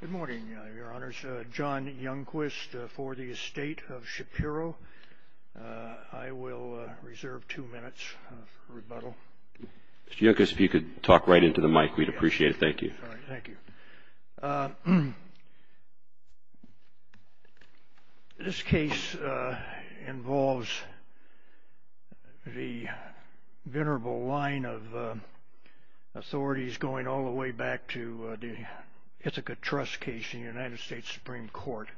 Good morning, your honors. John Youngquist for the estate of Shapiro. I will reserve two minutes for rebuttal. Mr. Youngquist, if you could talk right into the mic, we'd appreciate it. Thank you. Thank you. This case involves the venerable line of authorities going all the way back to the Ithaca Trust case in the United States Supreme Court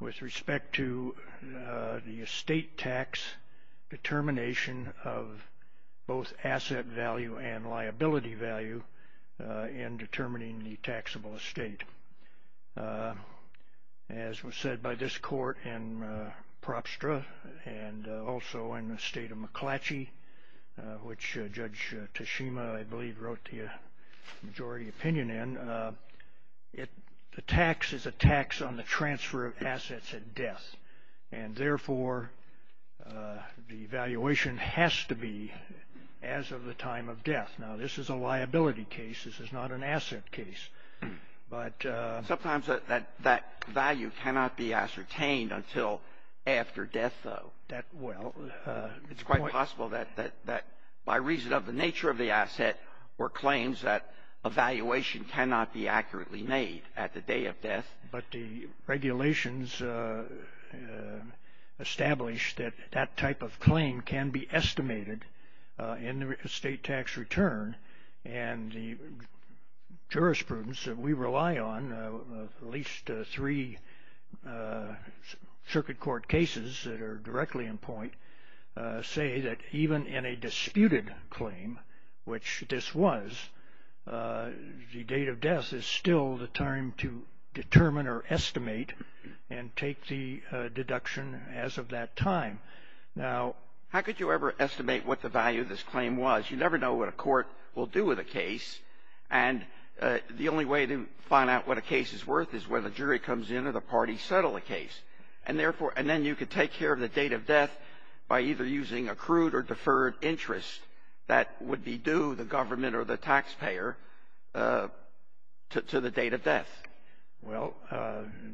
with respect to the estate tax determination of both asset value and liability value in determining the taxable estate. As was said by this court in Propstra and also in the estate of McClatchy, which Judge Tashima, I believe, wrote the majority opinion in, the tax is a tax on the transfer of assets at death, and therefore the valuation has to be as of the time of death. Now, this is a liability case. This is not an asset case. Sometimes that value cannot be ascertained until after death, though. It's quite possible that by reason of the nature of the asset were claims that a valuation cannot be accurately made at the day of death. But the regulations establish that that type of claim can be estimated in the estate tax return. And the jurisprudence that we rely on, at least three circuit court cases that are directly in point, say that even in a disputed claim, which this was, the date of death is still the time to determine or estimate and take the deduction as of that time. Now, how could you ever estimate what the value of this claim was? You never know what a court will do with a case. And the only way to find out what a case is worth is whether the jury comes in or the parties settle the case. And then you could take care of the date of death by either using accrued or deferred interest. That would be due the government or the taxpayer to the date of death. Well,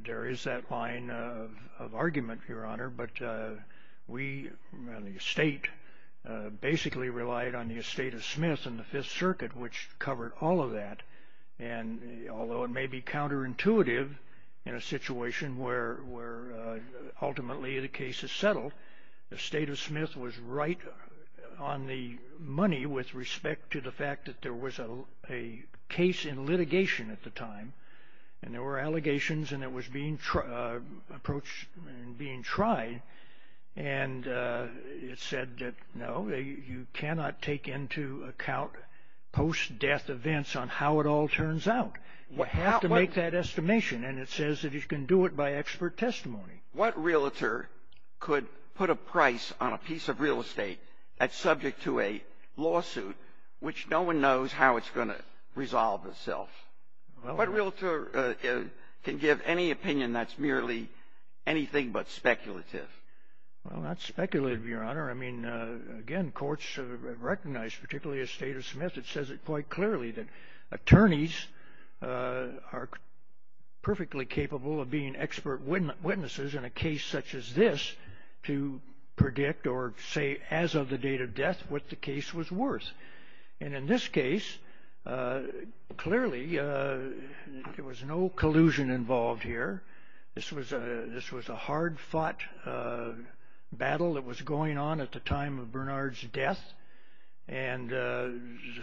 there is that line of argument, Your Honor. But we, the estate, basically relied on the estate of Smith and the Fifth Circuit, which covered all of that. And although it may be counterintuitive in a situation where ultimately the case is settled, the estate of Smith was right on the money with respect to the fact that there was a case in litigation at the time. And there were allegations, and it was being approached and being tried. And it said that, no, you cannot take into account post-death events on how it all turns out. You have to make that estimation. And it says that you can do it by expert testimony. What realtor could put a price on a piece of real estate that's subject to a lawsuit, which no one knows how it's going to resolve itself? What realtor can give any opinion that's merely anything but speculative? Well, not speculative, Your Honor. I mean, again, courts recognize, particularly estate of Smith, it says it quite clearly that attorneys are perfectly capable of being expert witnesses in a case such as this to predict or say as of the date of death what the case was worth. And in this case, clearly, there was no collusion involved here. This was a hard-fought battle that was going on at the time of Bernard's death. And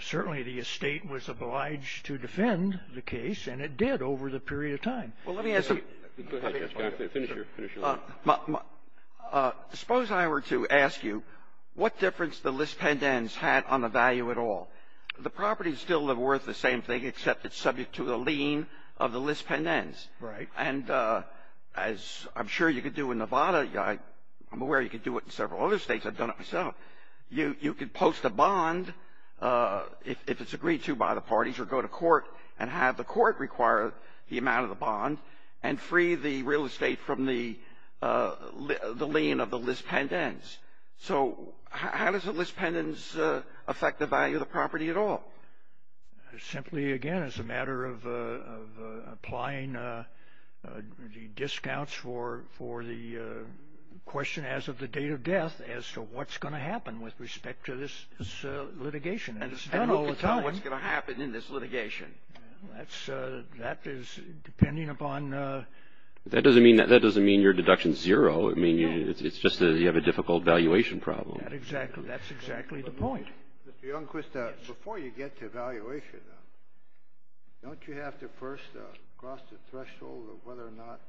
certainly the estate was obliged to defend the case, and it did over the period of time. Well, let me ask you. Go ahead, Judge. Finish your line. Suppose I were to ask you what difference the lis pendens had on the value at all. The property is still worth the same thing except it's subject to a lien of the lis pendens. Right. And as I'm sure you could do in Nevada, I'm aware you could do it in several other states. I've done it myself. You could post a bond if it's agreed to by the parties or go to court and have the court require the amount of the bond and free the real estate from the lien of the lis pendens. So how does the lis pendens affect the value of the property at all? Simply, again, it's a matter of applying the discounts for the question as of the date of death as to what's going to happen with respect to this litigation. And it's done all the time. And who can tell what's going to happen in this litigation? That is depending upon. That doesn't mean your deduction is zero. It's just that you have a difficult valuation problem. That's exactly the point. Mr. Youngquist, before you get to valuation, don't you have to first cross the threshold of whether or not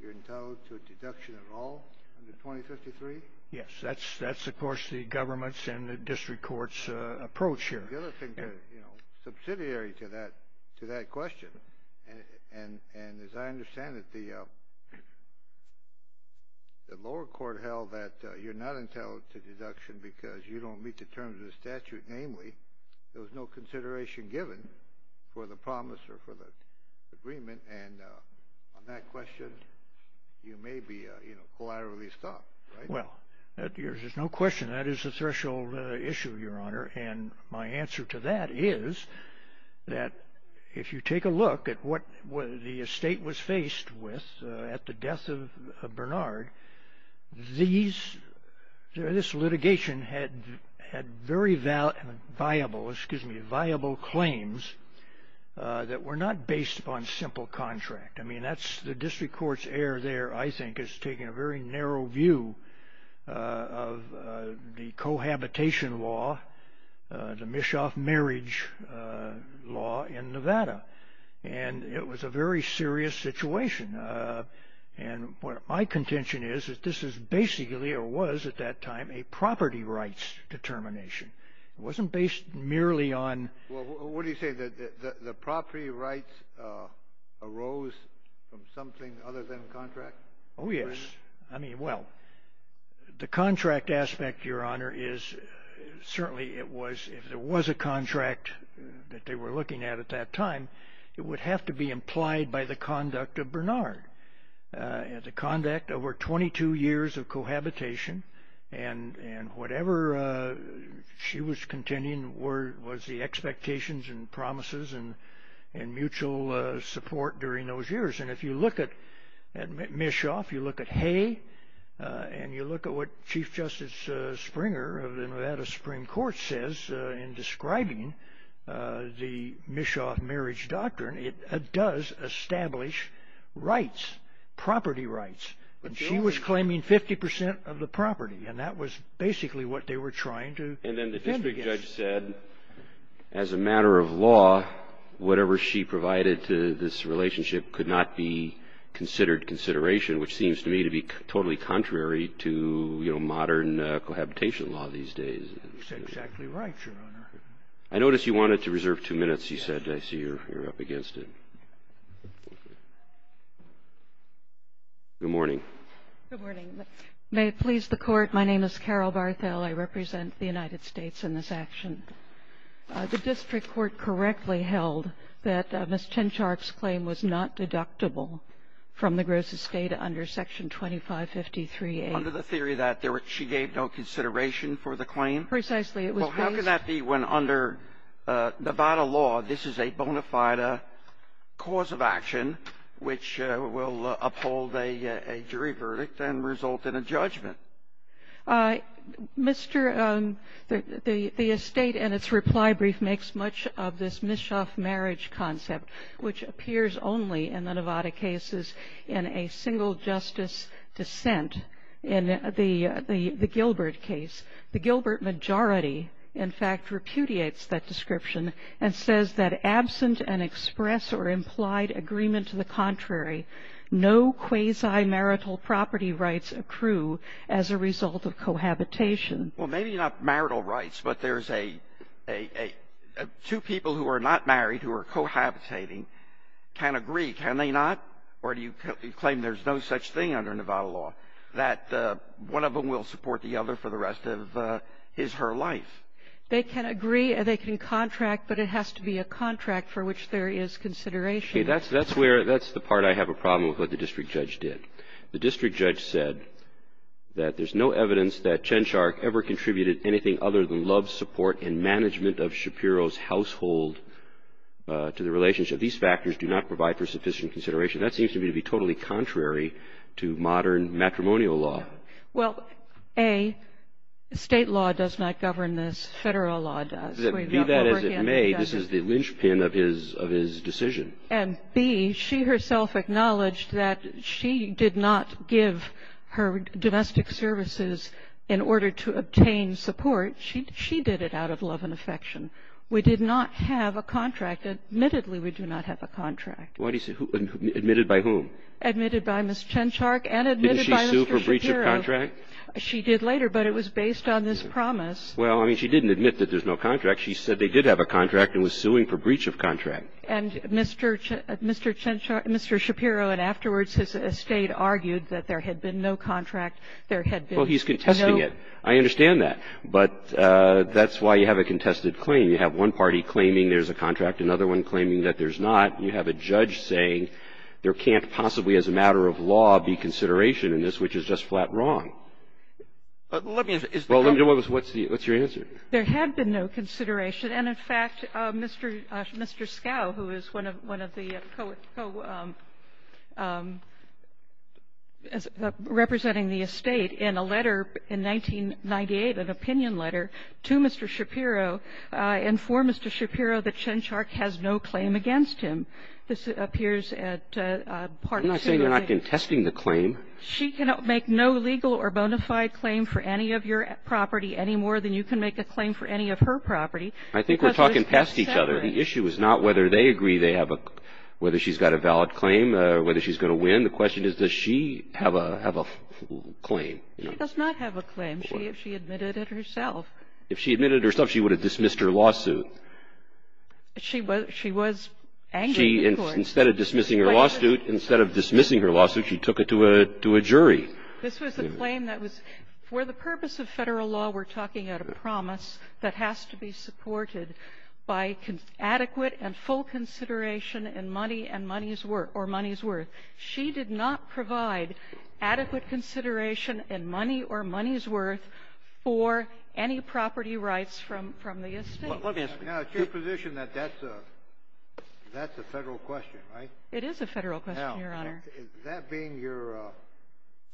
you're entitled to a deduction at all under 2053? Yes. That's, of course, the government's and the district court's approach here. The other thing, you know, subsidiary to that question, and as I understand it, the lower court held that you're not entitled to deduction because you don't meet the terms of the statute. Namely, there was no consideration given for the promise or for the agreement. And on that question, you may be collaterally stopped, right? Well, there's no question. That is a threshold issue, Your Honor. And my answer to that is that if you take a look at what the estate was faced with at the death of Bernard, this litigation had very viable claims that were not based upon simple contract. I mean, that's the district court's error there, I think, is taking a very narrow view of the cohabitation law, the Mischoff marriage law in Nevada. And it was a very serious situation. And my contention is that this is basically or was at that time a property rights determination. It wasn't based merely on – Well, what do you say, that the property rights arose from something other than contract? Oh, yes. I mean, well, the contract aspect, Your Honor, is certainly it was – if there was a contract that they were looking at at that time, it would have to be implied by the conduct of Bernard. The conduct over 22 years of cohabitation and whatever she was contending was the expectations and promises and mutual support during those years. And if you look at Mischoff, you look at Hay, and you look at what Chief Justice Springer of the Nevada Supreme Court says in describing the Mischoff marriage doctrine, it does establish rights, property rights. But she was claiming 50% of the property, and that was basically what they were trying to defend against. And then the district judge said, as a matter of law, whatever she provided to this relationship could not be considered consideration, which seems to me to be totally contrary to modern cohabitation law these days. That's exactly right, Your Honor. I notice you wanted to reserve two minutes, you said. I see you're up against it. Good morning. Good morning. May it please the Court, my name is Carol Barthel. I represent the United States in this action. The district court correctly held that Ms. Chinshark's claim was not deductible from the gross estate under Section 2553A. Under the theory that she gave no consideration for the claim? Precisely. Well, how can that be when under Nevada law this is a bona fide cause of action which will uphold a jury verdict and result in a judgment? Mr. the estate and its reply brief makes much of this Mischoff marriage concept, which appears only in the Nevada cases in a single justice dissent. In the Gilbert case, the Gilbert majority, in fact, repudiates that description and says that absent an express or implied agreement to the contrary, no quasi-marital property rights accrue as a result of cohabitation. Well, maybe not marital rights, but there's a two people who are not married who are cohabitating can agree. Can they not? Or do you claim there's no such thing under Nevada law that one of them will support the other for the rest of his, her life? They can agree. They can contract. But it has to be a contract for which there is consideration. Okay. That's where the part I have a problem with what the district judge did. The district judge said that there's no evidence that Chinshark ever contributed anything other than love, support and management of Shapiro's household to the relationship. These factors do not provide for sufficient consideration. That seems to me to be totally contrary to modern matrimonial law. Well, A, state law does not govern this. Federal law does. Be that as it may, this is the linchpin of his decision. And B, she herself acknowledged that she did not give her domestic services in order to obtain support. She did it out of love and affection. We did not have a contract. Admittedly, we do not have a contract. Why do you say? Admitted by whom? Admitted by Ms. Chinshark and admitted by Mr. Shapiro. Didn't she sue for breach of contract? She did later, but it was based on this promise. Well, I mean, she didn't admit that there's no contract. She said they did have a contract and was suing for breach of contract. And Mr. Chinshark, Mr. Shapiro and afterwards his estate argued that there had been no contract. There had been no. Well, he's contesting it. I understand that. But that's why you have a contested claim. You have one party claiming there's a contract, another one claiming that there's not. You have a judge saying there can't possibly as a matter of law be consideration in this, which is just flat wrong. Well, let me know what's your answer. There had been no consideration. And, in fact, Mr. Scow, who is one of the co-representing the estate in a letter in 1998, an opinion letter to Mr. Shapiro, informed Mr. Shapiro that Chinshark has no claim against him. This appears at Part 2 of the case. I'm not saying you're not contesting the claim. She cannot make no legal or bona fide claim for any of your property any more than you can make a claim for any of her property. I think we're talking past each other. The issue is not whether they agree they have a, whether she's got a valid claim or whether she's going to win. The question is, does she have a claim? She does not have a claim. She admitted it herself. If she admitted it herself, she would have dismissed her lawsuit. She was angry with the court. Instead of dismissing her lawsuit, she took it to a jury. This was a claim that was, for the purpose of Federal law, we're talking about a promise that has to be supported by adequate and full consideration in money and money's worth, or money's worth. She did not provide adequate consideration in money or money's worth for any property rights from the estate. Now, it's your position that that's a Federal question, right? It is a Federal question, Your Honor. That being your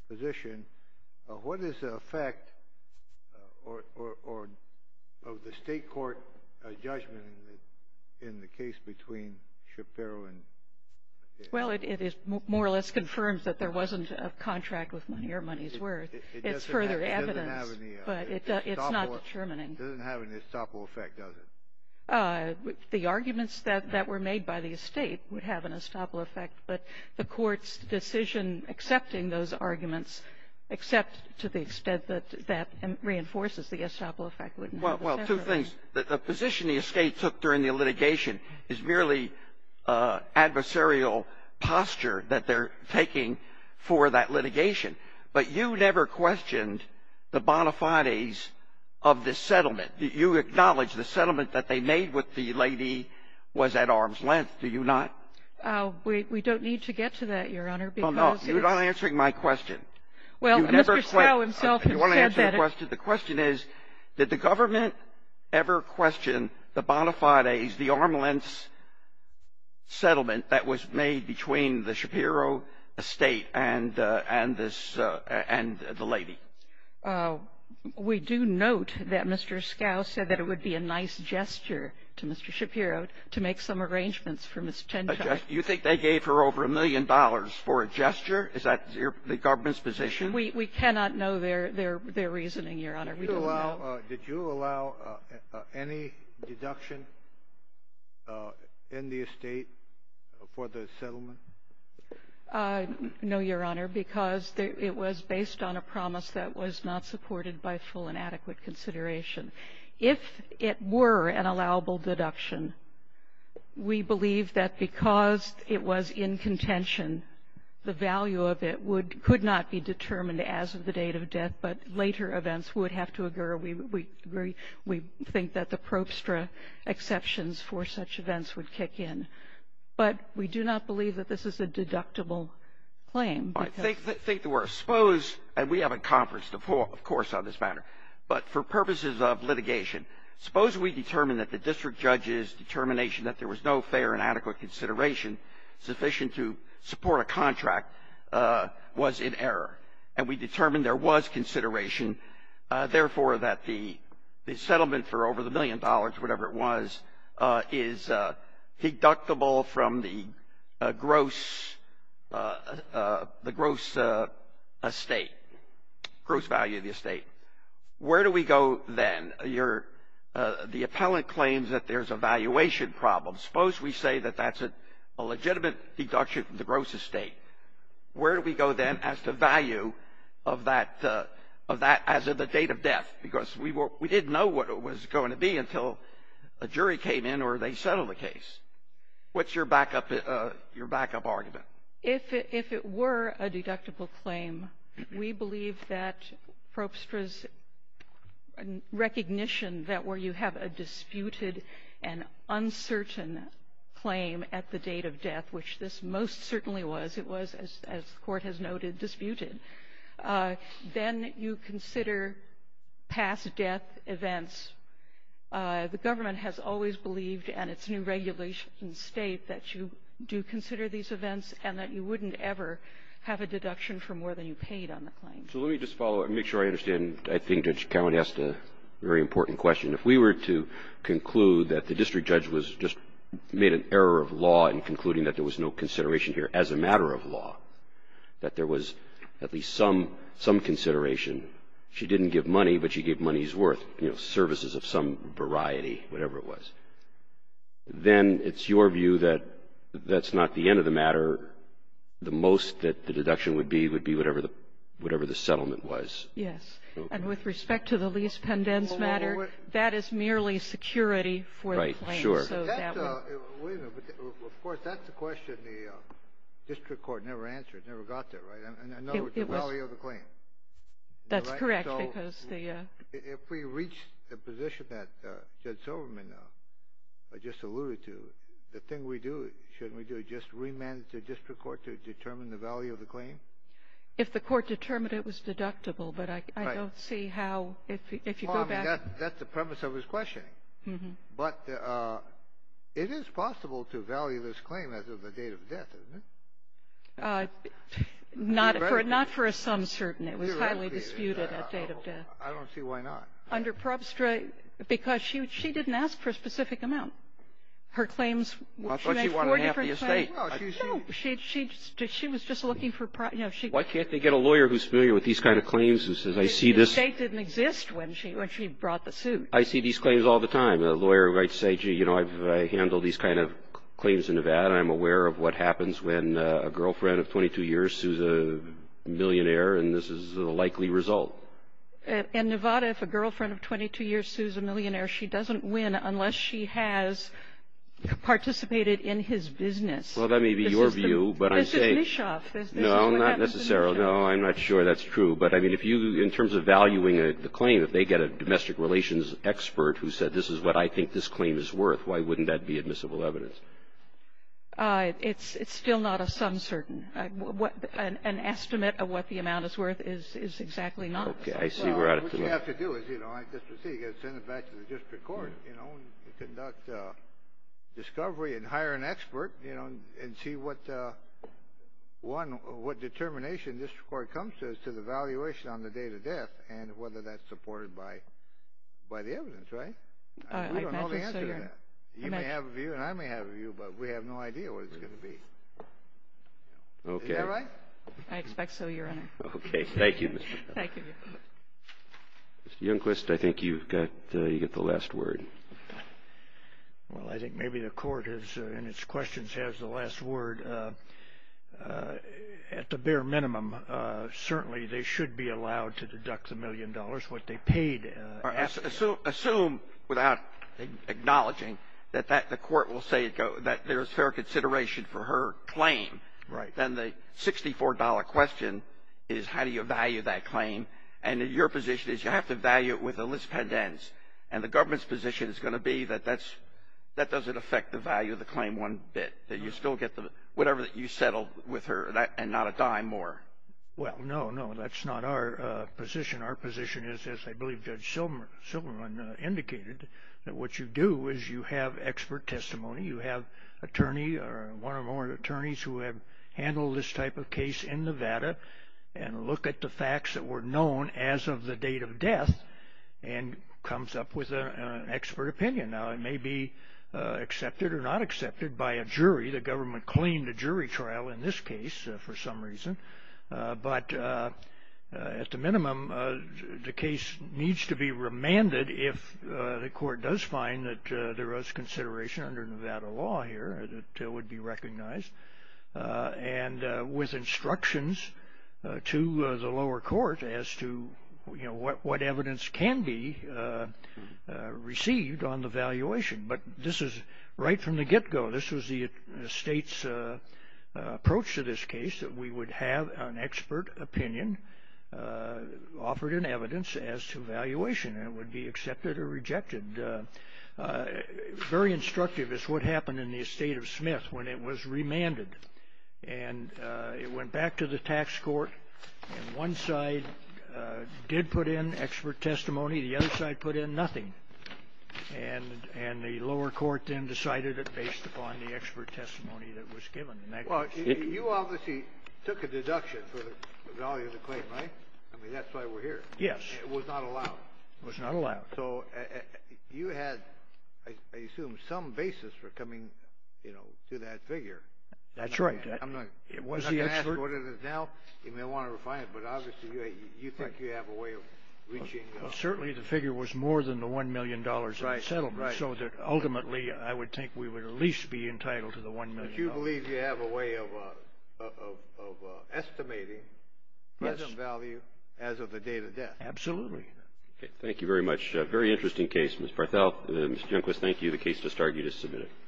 position, what is the effect of the state court judgment in the case between Shapiro and? Well, it more or less confirms that there wasn't a contract with money or money's worth. It's further evidence, but it's not determining. It doesn't have an estoppel effect, does it? The arguments that were made by the estate would have an estoppel effect, but the Court's decision accepting those arguments, except to the extent that that reinforces the estoppel effect wouldn't have an effect. Well, two things. The position the estate took during the litigation is merely adversarial posture that they're taking for that litigation. But you never questioned the bona fides of this settlement. You acknowledge the settlement that they made with the lady was at arm's length, do you not? We don't need to get to that, Your Honor, because it is — Well, no. You're not answering my question. Well, Mr. Scow, himself, has said that it — You want to answer the question? The question is, did the government ever question the bona fides, the arm's-length settlement that was made between the Shapiro estate and this — and the lady? We do note that Mr. Scow said that it would be a nice gesture to Mr. Shapiro to make some arrangements for Ms. Tentai. You think they gave her over a million dollars for a gesture? Is that the government's position? We cannot know their reasoning, Your Honor. We don't know. Did you allow any deduction in the estate for the settlement? No, Your Honor, because it was based on a promise that was not supported by full and adequate consideration. If it were an allowable deduction, we believe that because it was in contention, the value of it would — could not be determined as of the date of death, but later events would have to occur. We think that the probstra exceptions for such events would kick in. But we do not believe that this is a deductible claim. I think that we're exposed, and we have a conference, of course, on this matter. But for purposes of litigation, suppose we determine that the district judge's determination that there was no fair and adequate consideration sufficient to support a contract was in error, and we determine there was consideration, therefore, that the settlement for over the million dollars, whatever it was, is deductible from the gross estate, gross value of the estate. Where do we go then? The appellant claims that there's a valuation problem. Suppose we say that that's a legitimate deduction from the gross estate. Where do we go then as to value of that as of the date of death? Because we didn't know what it was going to be until a jury came in or they settled the case. What's your backup argument? If it were a deductible claim, we believe that probstra's recognition that where you have a disputed and uncertain claim at the date of death, which this most certainly was, it was, as the Court has noted, disputed. Then you consider past death events. The government has always believed and its new regulations state that you do consider these events and that you wouldn't ever have a deduction for more than you paid on the claim. So let me just follow up and make sure I understand. I think Judge Cowen asked a very important question. If we were to conclude that the district judge was just made an error of law in concluding that there was no consideration here as a matter of law, that there was at least some consideration. She didn't give money, but she gave money's worth, you know, services of some variety, whatever it was. Then it's your view that that's not the end of the matter. The most that the deduction would be would be whatever the settlement was. Yes. And with respect to the lease pendents matter, that is merely security for the claim. Wait a minute. Of course, that's the question the district court never answered. It never got there, right? In other words, the value of the claim. That's correct. So if we reach a position that Judge Silverman just alluded to, the thing we do, shouldn't we do is just remand the district court to determine the value of the claim? If the court determined it was deductible, but I don't see how, if you go back. That's the premise of his questioning. But it is possible to value this claim as of the date of death, isn't it? Not for a sum certain. It was highly disputed at date of death. I don't see why not. Under Probstra, because she didn't ask for a specific amount. Her claims. I thought she wanted half the estate. No, she was just looking for. Why can't they get a lawyer who's familiar with these kind of claims and says, I see this. The estate didn't exist when she brought the suit. I see these claims all the time. A lawyer might say, gee, you know, I've handled these kind of claims in Nevada, and I'm aware of what happens when a girlfriend of 22 years sues a millionaire, and this is the likely result. In Nevada, if a girlfriend of 22 years sues a millionaire, she doesn't win unless she has participated in his business. Well, that may be your view, but I'm saying. This is Mischoff. No, not necessarily. No, I'm not sure that's true. But, I mean, if you, in terms of valuing the claim, if they get a domestic relations expert who said this is what I think this claim is worth, why wouldn't that be admissible evidence? It's still not a sum certain. An estimate of what the amount is worth is exactly not. Okay. I see. We're out of time. Well, what you have to do is, you know, I just received it. Send it back to the district court, you know, and conduct discovery and hire an expert, you know, and see what determination district court comes to as to the valuation on the date of death and whether that's supported by the evidence, right? I don't know the answer to that. You may have a view and I may have a view, but we have no idea what it's going to be. Okay. Is that right? I expect so, Your Honor. Okay. Thank you, Mr. Miller. Thank you. Mr. Youngquist, I think you've got the last word. Well, I think maybe the court in its questions has the last word. At the bare minimum, certainly they should be allowed to deduct the million dollars, what they paid. Assume without acknowledging that the court will say that there's fair consideration for her claim. Right. Then the $64 question is how do you value that claim? And your position is you have to value it with a lispedance, and the government's position is going to be that that doesn't affect the value of the claim one bit, that you still get whatever you settled with her and not a dime more. Well, no, no, that's not our position. Our position is, as I believe Judge Silverman indicated, that what you do is you have expert testimony. You have an attorney or one or more attorneys who have handled this type of case in Nevada and look at the facts that were known as of the date of death and comes up with an expert opinion. Now, it may be accepted or not accepted by a jury. The government claimed a jury trial in this case for some reason. But at the minimum, the case needs to be remanded if the court does find that there is consideration under Nevada law here that would be recognized and with instructions to the lower court as to, you know, what evidence can be received on the valuation. But this is right from the get-go. This was the state's approach to this case, that we would have an expert opinion offered in evidence as to valuation, and it would be accepted or rejected. Very instructive is what happened in the estate of Smith when it was remanded. And it went back to the tax court, and one side did put in expert testimony. The other side put in nothing. And the lower court then decided it based upon the expert testimony that was given. Well, you obviously took a deduction for the value of the claim, right? I mean, that's why we're here. Yes. It was not allowed. It was not allowed. So you had, I assume, some basis for coming, you know, to that figure. That's right. I'm not going to ask what it is now. You may want to refine it, but obviously you think you have a way of reaching. Certainly the figure was more than the $1 million in settlement, so that ultimately I would think we would at least be entitled to the $1 million. But you believe you have a way of estimating present value as of the date of death. Absolutely. Okay. Thank you very much. Very interesting case, Ms. Parthal. Mr. Junquist, thank you. The case has started. You just submitted it.